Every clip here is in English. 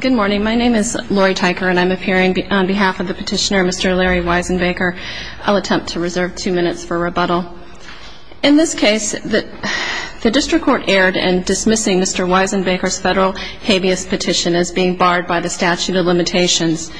Good morning. My name is Lori Teicher and I'm appearing on behalf of the petitioner, Mr. Larry Wisenbaker. I'll attempt to reserve two minutes for rebuttal. In this case, the district court erred in dismissing Mr. Wisenbaker's federal habeas petition as being barred by the statute of limitations.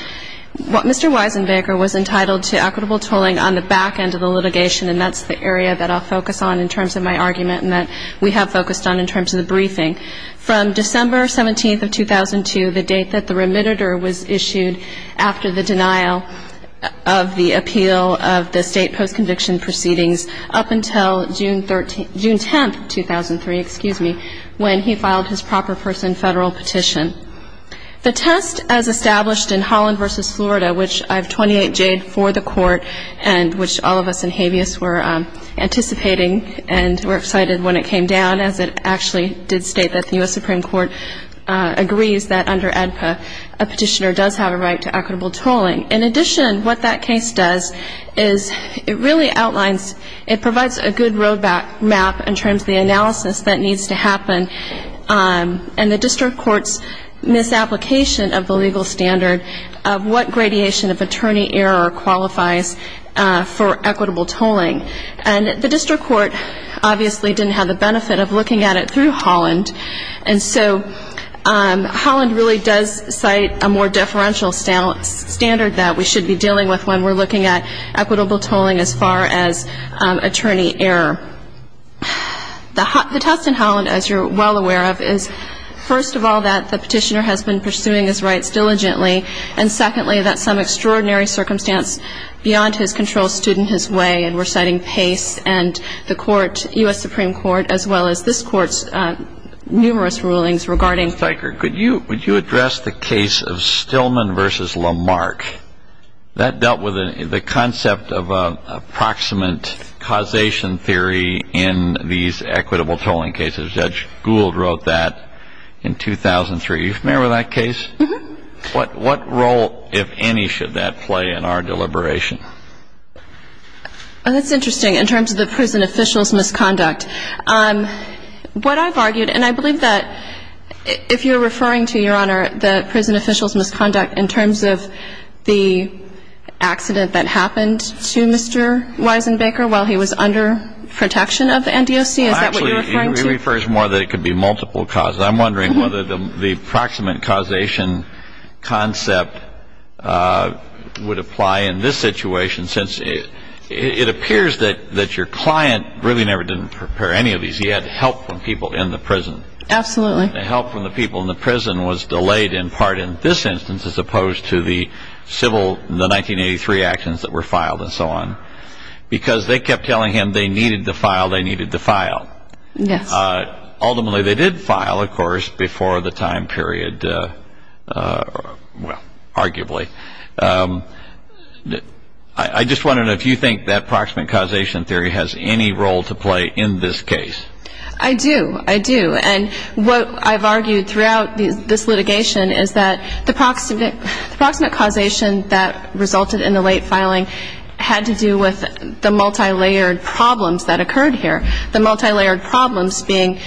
Mr. Wisenbaker was entitled to equitable tolling on the back end of the litigation, and that's the area that I'll focus on in terms of my argument and that we have focused on in terms of the briefing. From December 17, 2002, the date that the remitter was issued after the denial of the appeal of the state post-conviction proceedings, up until June 10, 2003, when he filed his proper person federal petition. The test as established in Holland v. Florida, which I have 28 Jade for the court, and which all of us in habeas were anticipating and were excited when it came down, as it actually did state that the U.S. Supreme Court agrees that under ADPA a petitioner does have a right to equitable tolling. In addition, what that case does is it really outlines, it provides a good road map in terms of the analysis that needs to happen, and the district court's misapplication of the legal standard of what gradation of attorney error qualifies for equitable tolling. And the district court obviously didn't have the benefit of looking at it through Holland, and so Holland really does cite a more differential standard that we should be dealing with when we're looking at equitable tolling as far as attorney error. The test in Holland, as you're well aware of, is, first of all, that the petitioner has been pursuing his rights diligently, and, secondly, that some extraordinary circumstance beyond his control stood in his way, and we're citing Pace and the court, U.S. Supreme Court, as well as this Court's numerous rulings regarding. Mr. Steiker, could you address the case of Stillman v. Lamarck? That dealt with the concept of a proximate causation theory in these equitable tolling cases. Judge Gould wrote that in 2003. Do you remember that case? What role, if any, should that play in our deliberation? That's interesting in terms of the prison officials' misconduct. What I've argued, and I believe that if you're referring to, Your Honor, the prison officials' misconduct in terms of the accident that happened to Mr. Weisenbaker while he was under protection of the NDOC? Is that what you're referring to? Actually, he refers more that it could be multiple causes. I'm wondering whether the proximate causation concept would apply in this situation, since it appears that your client really never did prepare any of these. He had help from people in the prison. Absolutely. The help from the people in the prison was delayed in part in this instance as opposed to the 1983 actions that were filed and so on, because they kept telling him they needed to file, they needed to file. Yes. Ultimately, they did file, of course, before the time period, well, arguably. I just wonder if you think that proximate causation theory has any role to play in this case. I do. I do. And what I've argued throughout this litigation is that the proximate causation that resulted in the late filing had to do with the multilayered problems that occurred here, the multilayered problems being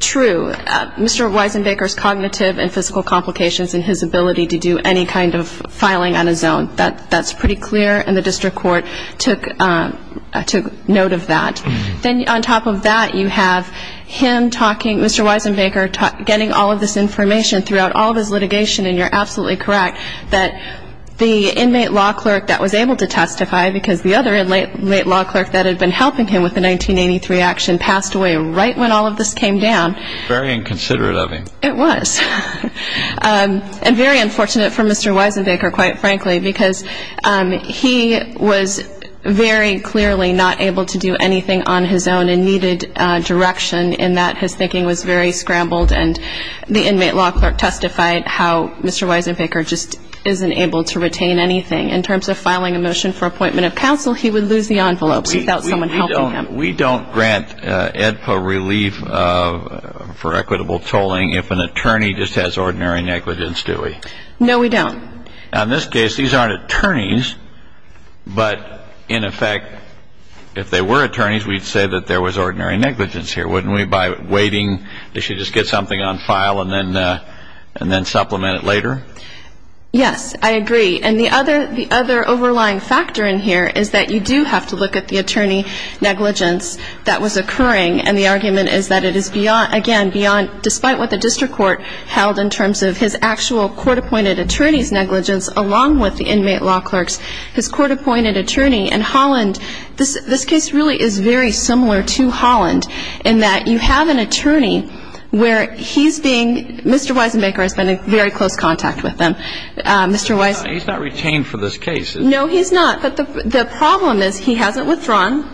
true, Mr. Weisenbaker's cognitive and physical complications and his ability to do any kind of filing on his own. That's pretty clear, and the district court took note of that. Then on top of that, you have him talking, Mr. Weisenbaker, getting all of this information throughout all of his litigation, and you're absolutely correct that the inmate law clerk that was able to testify because the other inmate law clerk that had been helping him with the 1983 action passed away right when all of this came down. Very inconsiderate of him. It was. And very unfortunate for Mr. Weisenbaker, quite frankly, because he was very clearly not able to do anything on his own and needed direction in that his thinking was very scrambled, and the inmate law clerk testified how Mr. Weisenbaker just isn't able to retain anything. In terms of filing a motion for appointment of counsel, he would lose the envelopes without someone helping him. We don't grant AEDPA relief for equitable tolling if an attorney just has ordinary negligence, do we? No, we don't. Now, in this case, these aren't attorneys, but, in effect, if they were attorneys, we'd say that there was ordinary negligence here, wouldn't we, by waiting? They should just get something on file and then supplement it later? Yes, I agree. And the other overlying factor in here is that you do have to look at the attorney negligence that was occurring, and the argument is that it is, again, beyond, despite what the district court held in terms of his actual court-appointed attorney's negligence along with the inmate law clerk's, his court-appointed attorney in Holland, this case really is very similar to Holland in that you have an attorney where he's being Mr. Weisenbaker has been in very close contact with him. He's not retained for this case. No, he's not. But the problem is he hasn't withdrawn.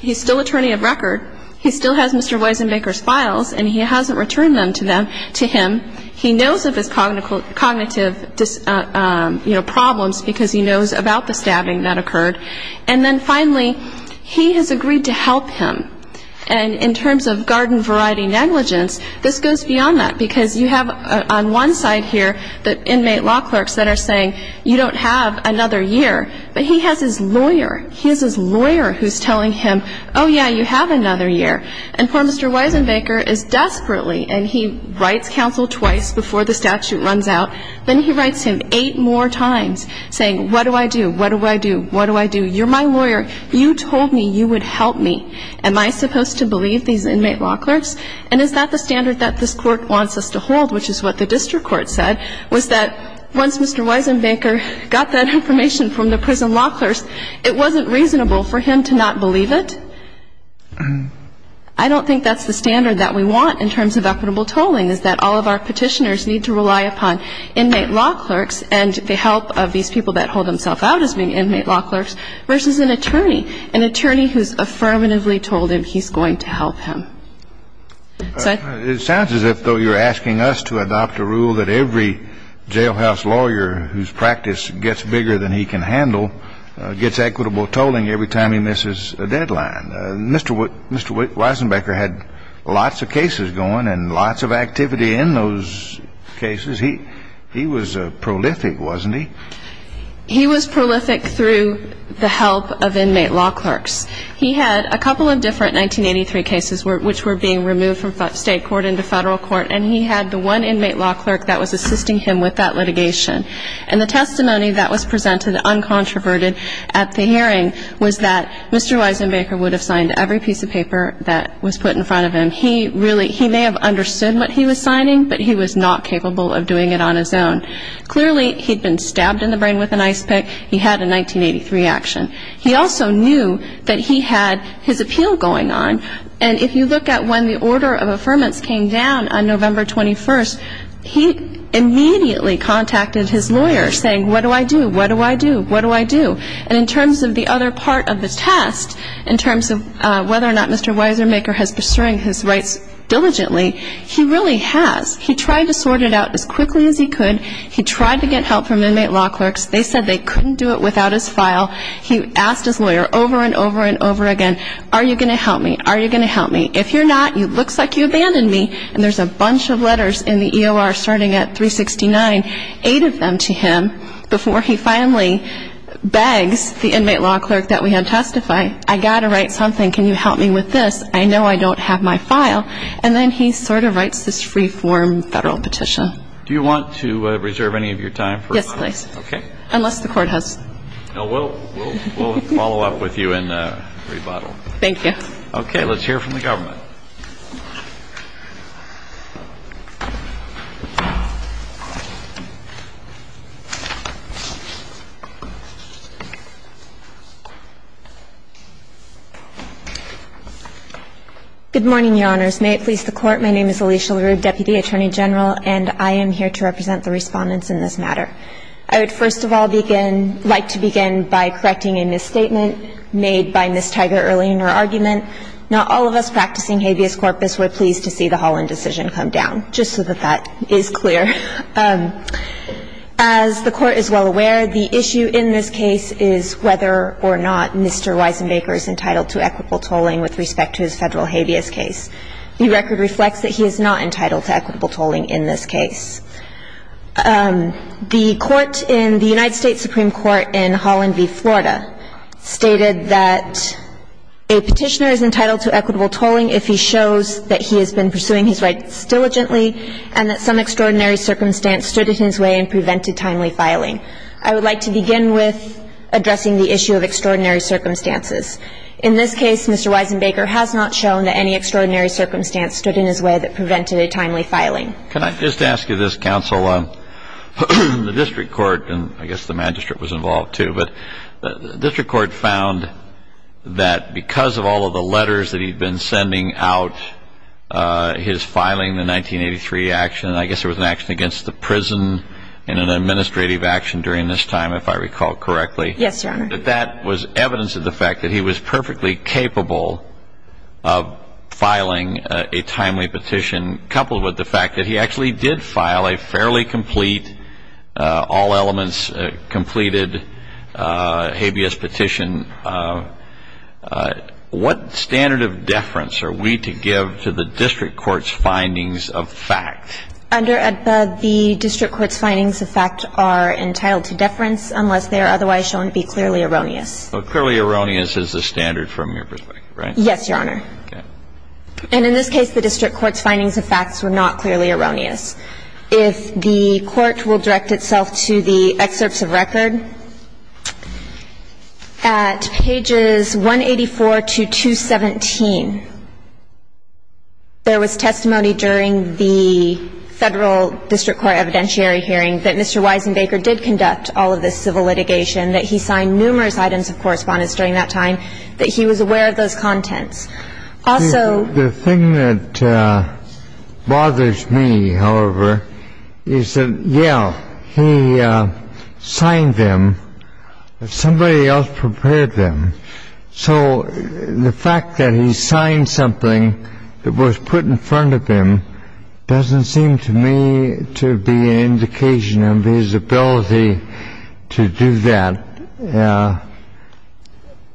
He's still attorney of record. He still has Mr. Weisenbaker's files, and he hasn't returned them to him. He knows of his cognitive problems because he knows about the stabbing that occurred. And then, finally, he has agreed to help him. And in terms of garden variety negligence, this goes beyond that because you have on one side here the inmate law clerks that are saying, you don't have another year. But he has his lawyer. He has his lawyer who's telling him, oh, yeah, you have another year. And poor Mr. Weisenbaker is desperately, and he writes counsel twice before the statute runs out, then he writes him eight more times saying, what do I do? What do I do? What do I do? You're my lawyer. You told me you would help me. Am I supposed to believe these inmate law clerks? And is that the standard that this court wants us to hold, which is what the district court said, was that once Mr. Weisenbaker got that information from the prison law clerks, it wasn't reasonable for him to not believe it? I don't think that's the standard that we want in terms of equitable tolling, is that all of our Petitioners need to rely upon inmate law clerks and the help of these people that hold themselves out as being inmate law clerks versus an attorney, an attorney who's affirmatively told him he's going to help him. It sounds as if, though, you're asking us to adopt a rule that every jailhouse lawyer whose practice gets bigger than he can handle gets equitable tolling every time he misses a deadline. Mr. Weisenbaker had lots of cases going and lots of activity in those cases. He was prolific, wasn't he? He was prolific through the help of inmate law clerks. He had a couple of different 1983 cases which were being removed from state court into federal court, and he had the one inmate law clerk that was assisting him with that litigation. And the testimony that was presented uncontroverted at the hearing was that Mr. Weisenbaker would have signed every piece of paper that was put in front of him. He may have understood what he was signing, but he was not capable of doing it on his own. Clearly, he'd been stabbed in the brain with an ice pick. He had a 1983 action. He also knew that he had his appeal going on. And if you look at when the order of affirmance came down on November 21st, he immediately contacted his lawyer saying, what do I do? What do I do? What do I do? And in terms of the other part of the test, in terms of whether or not Mr. Weisenbaker has pursuing his rights diligently, he really has. He tried to sort it out as quickly as he could. He tried to get help from inmate law clerks. They said they couldn't do it without his file. He asked his lawyer over and over and over again, are you going to help me? Are you going to help me? If you're not, it looks like you abandoned me. And there's a bunch of letters in the EOR starting at 369, eight of them to him before he finally begs the inmate law clerk that we had testified, I've got to write something. Can you help me with this? I know I don't have my file. And then he sort of writes this free-form federal petition. Do you want to reserve any of your time? Yes, please. Okay. Does the Court have any questions? No. We'll follow up with you and rebuttal. Thank you. Okay. Let's hear from the government. Good morning, Your Honors. May it please the Court. My name is Alicia LaRue, Deputy Attorney General, and I am here to represent the respondents in this matter. I would first of all like to begin by correcting a misstatement made by Ms. Tiger early in her argument. Not all of us practicing habeas corpus were pleased to see the Holland decision come down. Just so that that is clear, as the Court is well aware, the issue in this case is whether or not Mr. Weisenbaker is entitled to equitable tolling with respect to his federal habeas case. The record reflects that he is not entitled to equitable tolling in this case. The Court in the United States Supreme Court in Holland v. Florida stated that a petitioner is entitled to equitable tolling if he shows that he has been pursuing his rights diligently and that some extraordinary circumstance stood in his way and prevented timely filing. I would like to begin with addressing the issue of extraordinary circumstances. In this case, Mr. Weisenbaker has not shown that any extraordinary circumstance stood in his way that prevented a timely filing. Can I just ask you this, Counsel? The district court, and I guess the magistrate was involved, too, but the district court found that because of all of the letters that he had been sending out, his filing, the 1983 action, and I guess there was an action against the prison in an administrative action during this time, if I recall correctly. Yes, Your Honor. That that was evidence of the fact that he was perfectly capable of filing a timely petition coupled with the fact that he actually did file a fairly complete, all elements completed habeas petition. What standard of deference are we to give to the district court's findings of fact? Under AEDPA, the district court's findings of fact are entitled to deference unless they are otherwise shown to be clearly erroneous. So clearly erroneous is the standard from your perspective, right? Yes, Your Honor. Okay. And in this case, the district court's findings of facts were not clearly erroneous. If the court will direct itself to the excerpts of record, at pages 184 to 217, there was testimony during the federal district court evidentiary hearing that Mr. Weisenbaker did conduct all of this civil litigation, that he signed numerous items of correspondence during that time, that he was aware of those contents. Also the thing that bothers me, however, is that, yeah, he signed them, but somebody else prepared them. So the fact that he signed something that was put in front of him doesn't seem to me to be an indication of his ability to do that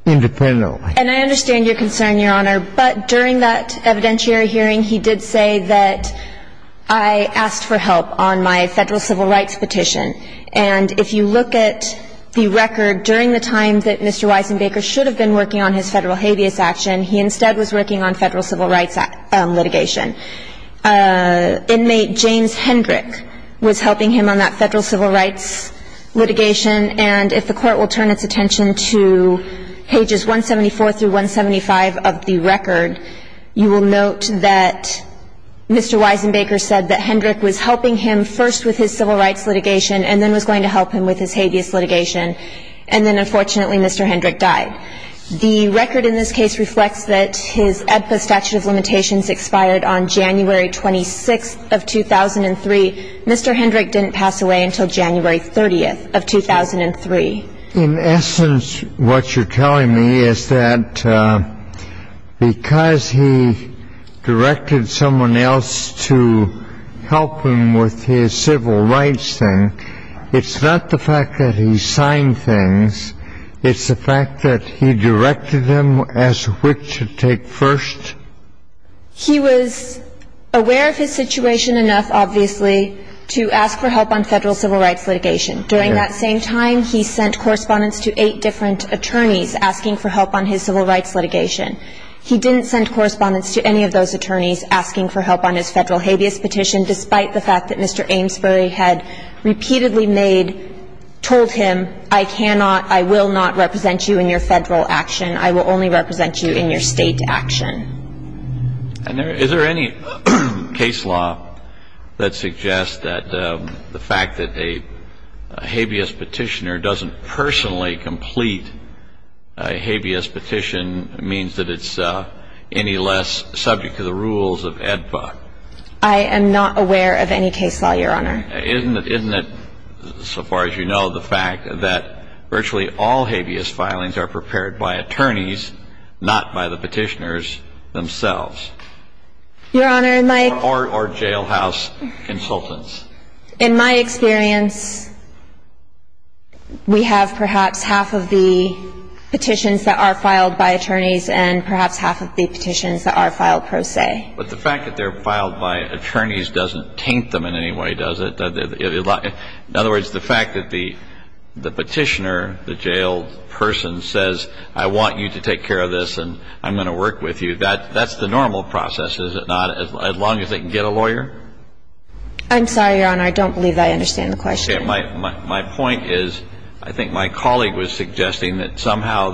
independently. And I understand your concern, Your Honor. But during that evidentiary hearing, he did say that, I asked for help on my federal civil rights petition. And if you look at the record, during the time that Mr. Weisenbaker should have been working on his federal habeas action, he instead was working on federal civil rights litigation. Inmate James Hendrick was helping him on that federal civil rights litigation. And if the court will turn its attention to pages 174 through 175 of the record, you will note that Mr. Weisenbaker said that Hendrick was helping him first with his civil rights litigation, and then was going to help him with his habeas litigation. And then, unfortunately, Mr. Hendrick died. The record in this case reflects that his AEDPA statute of limitations expired on January 26th of 2003. Unfortunately, Mr. Hendrick didn't pass away until January 30th of 2003. In essence, what you're telling me is that because he directed someone else to help him with his civil rights thing, it's not the fact that he signed things, it's the fact that he directed him as which to take first? He was aware of his situation enough, obviously, to ask for help on federal civil rights litigation. During that same time, he sent correspondence to eight different attorneys asking for help on his civil rights litigation. He didn't send correspondence to any of those attorneys asking for help on his federal habeas petition, despite the fact that Mr. Amesbury had repeatedly made, told him, I cannot, I will not represent you in your federal action. I will only represent you in your state action. And is there any case law that suggests that the fact that a habeas petitioner doesn't personally complete a habeas petition means that it's any less subject to the rules of AEDPA? I am not aware of any case law, Your Honor. Isn't it, so far as you know, the fact that virtually all habeas filings are prepared by attorneys, not by the petitioners themselves? Your Honor, my — Or jailhouse consultants. In my experience, we have perhaps half of the petitions that are filed by attorneys and perhaps half of the petitions that are filed pro se. But the fact that they're filed by attorneys doesn't taint them in any way, does it? In other words, the fact that the petitioner, the jailed person, says, I want you to take care of this and I'm going to work with you, that's the normal process, is it not, as long as they can get a lawyer? I'm sorry, Your Honor, I don't believe I understand the question. My point is, I think my colleague was suggesting that somehow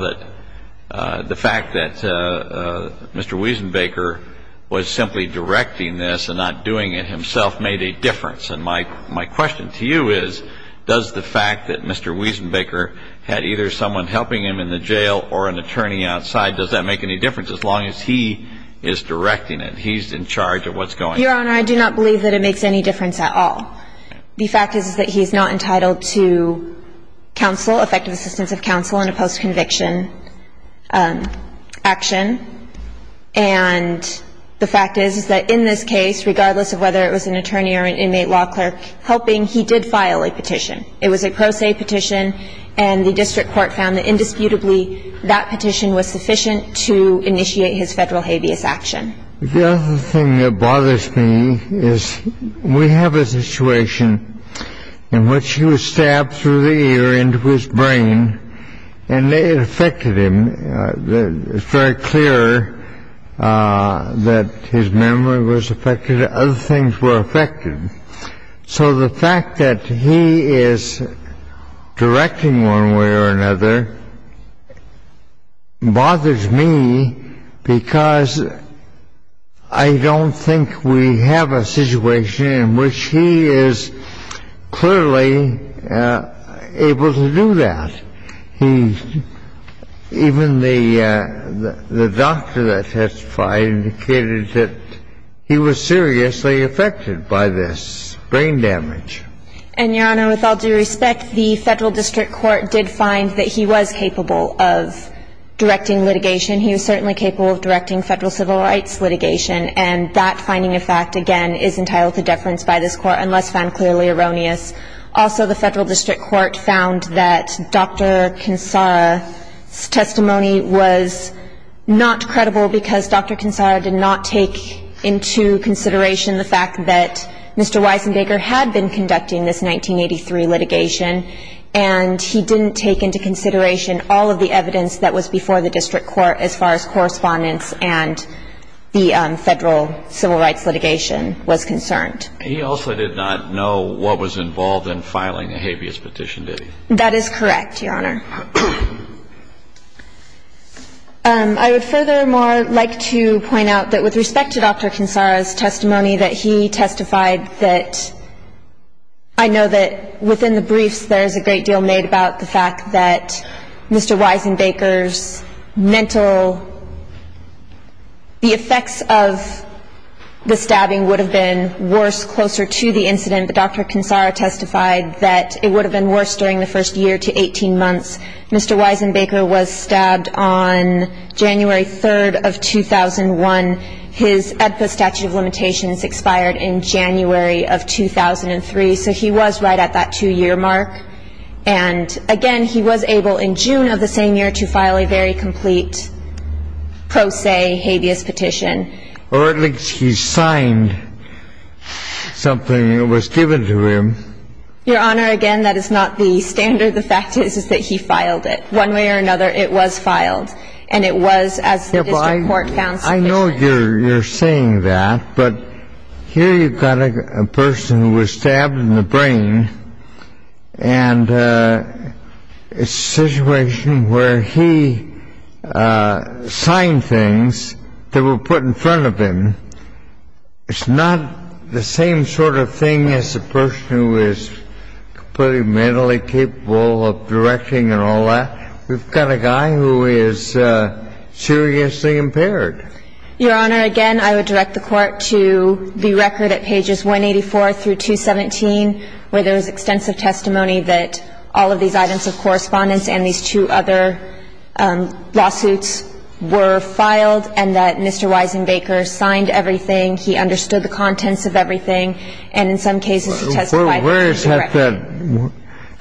that the fact that Mr. Wiesenbaker was simply directing this and not doing it himself made a difference and my question to you is, does the fact that Mr. Wiesenbaker had either someone helping him in the jail or an attorney outside, does that make any difference, as long as he is directing it, he's in charge of what's going on? Your Honor, I do not believe that it makes any difference at all. The fact is that he's not entitled to counsel, effective assistance of counsel in a post-conviction action, and the fact is that in this case, regardless of whether it was an attorney or an inmate law clerk helping, he did file a petition. It was a pro se petition and the district court found that indisputably that petition was sufficient to initiate his federal habeas action. The other thing that bothers me is we have a situation in which he was stabbed through the ear into his brain and it affected him, it's very clear that his memory was affected, and other things were affected. So the fact that he is directing one way or another bothers me because I don't think we have a situation in which he is clearly able to do that. He, even the doctor that testified indicated that he was seriously affected by this brain damage. And, Your Honor, with all due respect, the federal district court did find that he was capable of directing litigation. He was certainly capable of directing federal civil rights litigation, and that finding of fact, again, is entitled to deference by this Court, unless found clearly erroneous. Also, the federal district court found that Dr. Kinsara's testimony was not credible because Dr. Kinsara did not take into consideration the fact that Mr. Weisenbaker had been conducting this 1983 litigation, and he didn't take into consideration all of the evidence that was before the district court as far as correspondence and the federal civil rights litigation was concerned. He also did not know what was involved in filing a habeas petition, did he? That is correct, Your Honor. I would furthermore like to point out that with respect to Dr. Kinsara's testimony that he testified that I know that within the briefs there is a great deal made about the fact that Mr. Weisenbaker's mental, the effects of the stabbing would have been worse closer to the incident, but Dr. Kinsara testified that it would have been worse during the first year to 18 months. Mr. Weisenbaker was stabbed on January 3rd of 2001. His EDPA statute of limitations expired in January of 2003, so he was right at that two-year mark, and again, he was able in June of the same year to file a very complete pro se habeas petition. Or at least he signed something that was given to him. Your Honor, again, that is not the standard. The fact is, is that he filed it. One way or another, it was filed, and it was as the district court found sufficient. I know you're saying that, but here you've got a person who was stabbed in the brain, and it's a situation where he signed things that were put in front of him. It's not the same sort of thing as a person who is completely mentally capable of directing and all that. We've got a guy who is seriously impaired. Your Honor, again, I would direct the Court to the record at pages 184 through 217, where there is extensive testimony that all of these items of correspondence and these two other lawsuits were filed, and that Mr. Weisenbaker signed everything. He understood the contents of everything, and in some cases, he testified that it was a record. Where is that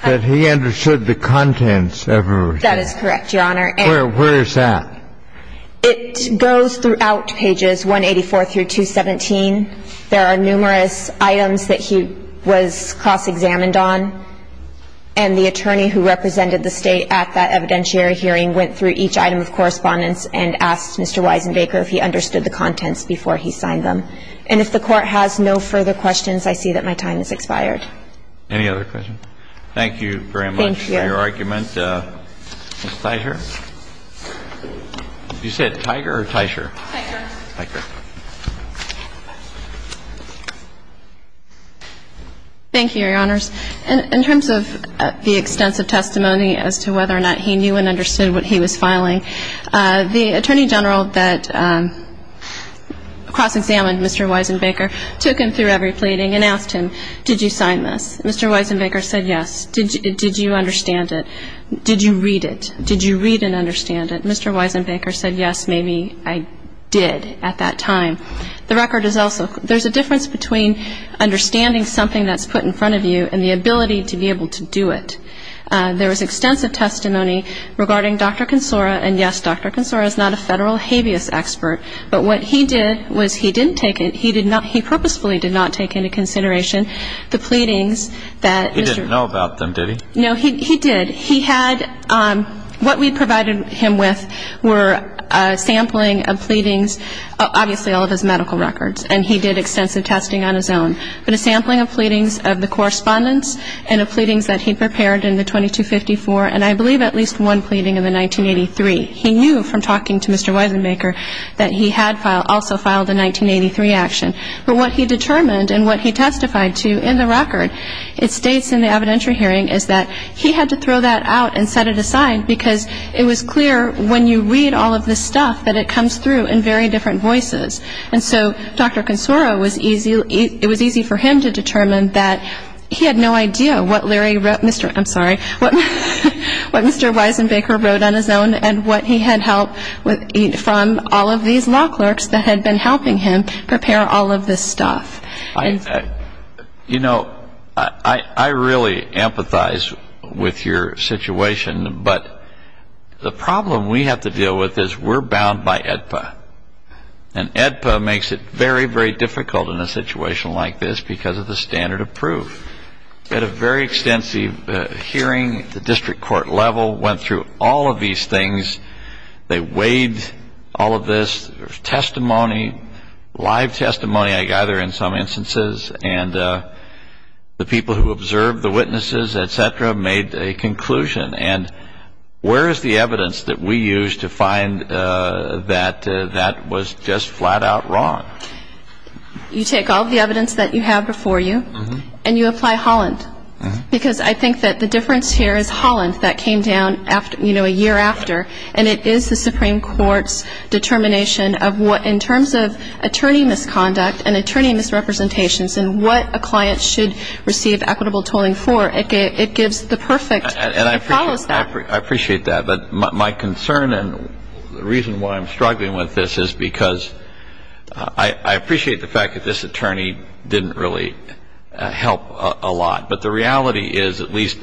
that he understood the contents of everything? That is correct, Your Honor. Where is that? It goes throughout pages 184 through 217. There are numerous items that he was cross-examined on, and the attorney who represented the State at that evidentiary hearing went through each item of correspondence and asked Mr. Weisenbaker if he understood the contents before he signed them. And if the Court has no further questions, I see that my time has expired. Any other questions? Thank you very much for your argument. Thank you. Ms. Theischer? Did you say it Tiger or Theischer? Tiger. Tiger. Thank you, Your Honors. In terms of the extensive testimony as to whether or not he knew and understood what he was filing, the Attorney General that cross-examined Mr. Weisenbaker took him through every pleading and asked him, did you sign this? Mr. Weisenbaker said yes. Did you understand it? Did you read it? Did you read and understand it? Mr. Weisenbaker said yes, maybe I did at that time. The record is also – there's a difference between understanding something that's put in front of you and the ability to be able to do it. There was extensive testimony regarding Dr. Consora, and yes, Dr. Consora is not a federal habeas expert, but what he did was he didn't take it – he purposefully did not take into consideration the pleadings that Mr. – He didn't know about them, did he? No, he did. He had – what we provided him with were a sampling of pleadings, obviously all of his medical records, and he did extensive testing on his own. But a sampling of pleadings of the correspondence and of pleadings that he prepared in the 2254, and I believe at least one pleading in the 1983. He knew from talking to Mr. Weisenbaker that he had also filed a 1983 action. But what he determined and what he testified to in the record, it states in the evidentiary hearing, is that he had to throw that out and set it aside because it was clear when you read all of this stuff that it comes through in very different voices. And so Dr. Consora was easy – it was easy for him to determine that he had no idea what Larry wrote – Mr. – I'm sorry, what Mr. Weisenbaker wrote on his own and what he had helped from all of these law clerks that had been helping him prepare all of this stuff. You know, I really empathize with your situation, but the problem we have to deal with is we're bound by AEDPA. And AEDPA makes it very, very difficult in a situation like this because of the standard of proof. We had a very extensive hearing at the district court level, went through all of these things. They weighed all of this. There was testimony, live testimony I gather in some instances. And the people who observed, the witnesses, et cetera, made a conclusion. And where is the evidence that we used to find that that was just flat-out wrong? You take all of the evidence that you have before you and you apply Holland. Because I think that the difference here is Holland that came down, you know, a year after. And it is the Supreme Court's determination of what in terms of attorney misconduct and attorney misrepresentations and what a client should receive equitable tolling for. It gives the perfect. It follows that. I appreciate that. But my concern and the reason why I'm struggling with this is because I appreciate the fact that this attorney didn't really help a lot. But the reality is at least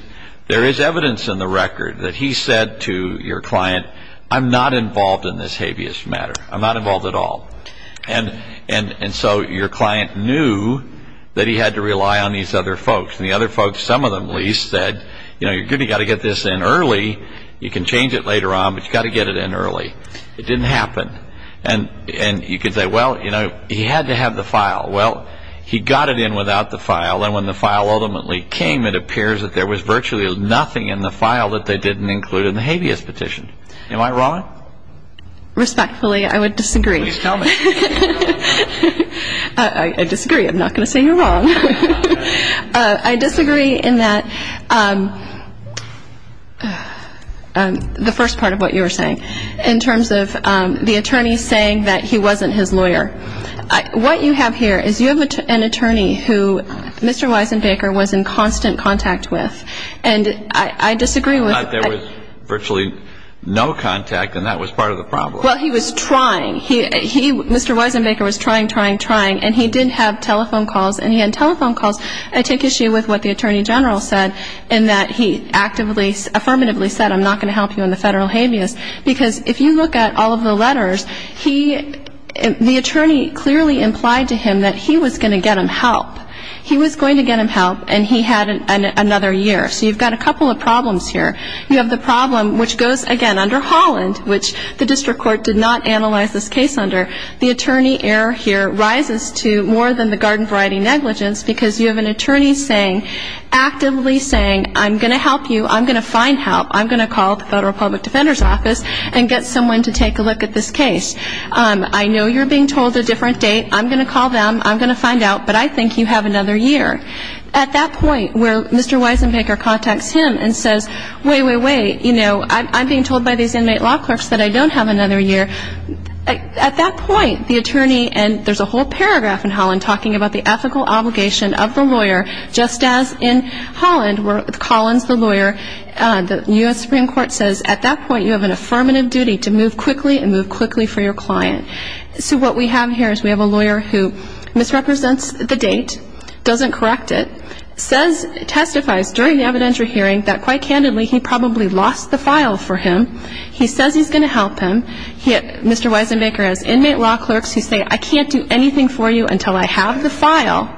there is evidence in the record that he said to your client, I'm not involved in this habeas matter. I'm not involved at all. And so your client knew that he had to rely on these other folks. And the other folks, some of them at least, said, you know, you've got to get this in early. You can change it later on, but you've got to get it in early. It didn't happen. And you could say, well, you know, he had to have the file. Well, he got it in without the file. And when the file ultimately came, it appears that there was virtually nothing in the file that they didn't include in the habeas petition. Am I wrong? Respectfully, I would disagree. Please tell me. I disagree. I'm not going to say you're wrong. I disagree in that the first part of what you were saying in terms of the attorney saying that he wasn't his lawyer. What you have here is you have an attorney who Mr. Weisenbaker was in constant contact with. And I disagree with that. There was virtually no contact, and that was part of the problem. Well, he was trying. And he did have telephone calls, and he had telephone calls. I take issue with what the attorney general said in that he actively, affirmatively said, I'm not going to help you on the federal habeas, because if you look at all of the letters, the attorney clearly implied to him that he was going to get him help. He was going to get him help, and he had another year. So you've got a couple of problems here. You have the problem which goes, again, under Holland, which the district court did not analyze this case under. The attorney error here rises to more than the garden variety negligence, because you have an attorney saying, actively saying, I'm going to help you. I'm going to find help. I'm going to call the Federal Public Defender's Office and get someone to take a look at this case. I know you're being told a different date. I'm going to call them. I'm going to find out. But I think you have another year. At that point, where Mr. Weisenbaker contacts him and says, wait, wait, wait, you know, I'm being told by these inmate law clerks that I don't have another year. At that point, the attorney, and there's a whole paragraph in Holland talking about the ethical obligation of the lawyer, just as in Holland where Collins, the lawyer, the U.S. Supreme Court says, at that point you have an affirmative duty to move quickly and move quickly for your client. So what we have here is we have a lawyer who misrepresents the date, doesn't correct it, testifies during the evidentiary hearing that, quite candidly, he probably lost the file for him. He says he's going to help him. Mr. Weisenbaker has inmate law clerks who say, I can't do anything for you until I have the file,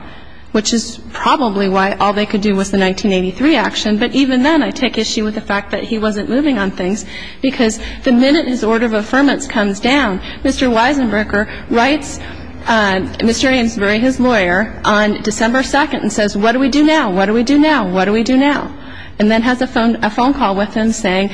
which is probably why all they could do was the 1983 action. But even then, I take issue with the fact that he wasn't moving on things because the minute his order of affirmance comes down, Mr. Weisenbaker writes Mr. Amesbury, his lawyer, on December 2nd and says, what do we do now? What do we do now? What do we do now? And then has a phone call with him saying,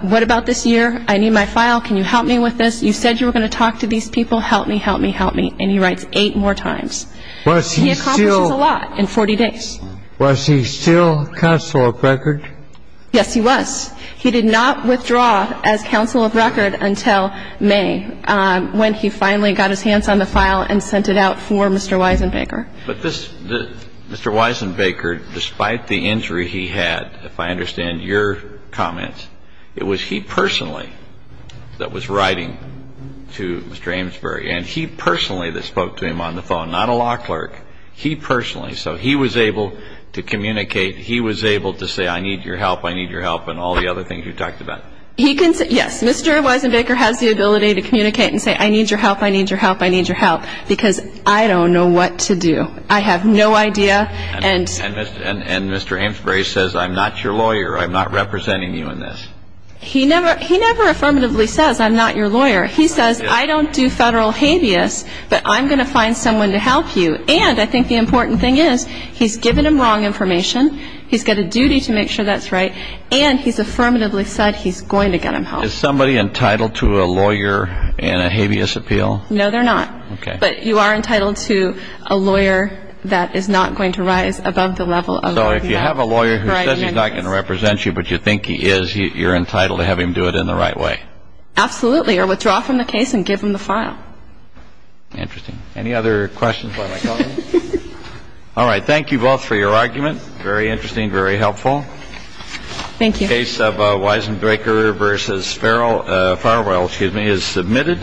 what about this year? I need my file. Can you help me with this? You said you were going to talk to these people. Help me, help me, help me. And he writes eight more times. He accomplishes a lot in 40 days. Was he still counsel of record? Yes, he was. He did not withdraw as counsel of record until May, when he finally got his hands on the file and sent it out for Mr. Weisenbaker. But this Mr. Weisenbaker, despite the injury he had, if I understand your comments, it was he personally that was writing to Mr. Amesbury, and he personally that spoke to him on the phone, not a law clerk, he personally. So he was able to communicate, he was able to say, I need your help, I need your help, and all the other things you talked about. Yes, Mr. Weisenbaker has the ability to communicate and say, I need your help, I need your help, I need your help, because I don't know what to do. I have no idea. And Mr. Amesbury says, I'm not your lawyer, I'm not representing you in this. He never affirmatively says, I'm not your lawyer. He says, I don't do federal habeas, but I'm going to find someone to help you. And I think the important thing is, he's given him wrong information, he's got a duty to make sure that's right, and he's affirmatively said he's going to get him help. Is somebody entitled to a lawyer and a habeas appeal? No, they're not. Okay. But you are entitled to a lawyer that is not going to rise above the level of a lawyer. So if you have a lawyer who says he's not going to represent you, but you think he is, you're entitled to have him do it in the right way. Absolutely, or withdraw from the case and give him the file. Interesting. Any other questions by my colleagues? All right. Thank you both for your argument. Very interesting, very helpful. Thank you. The case of Weisenbaker v. Farrell is submitted.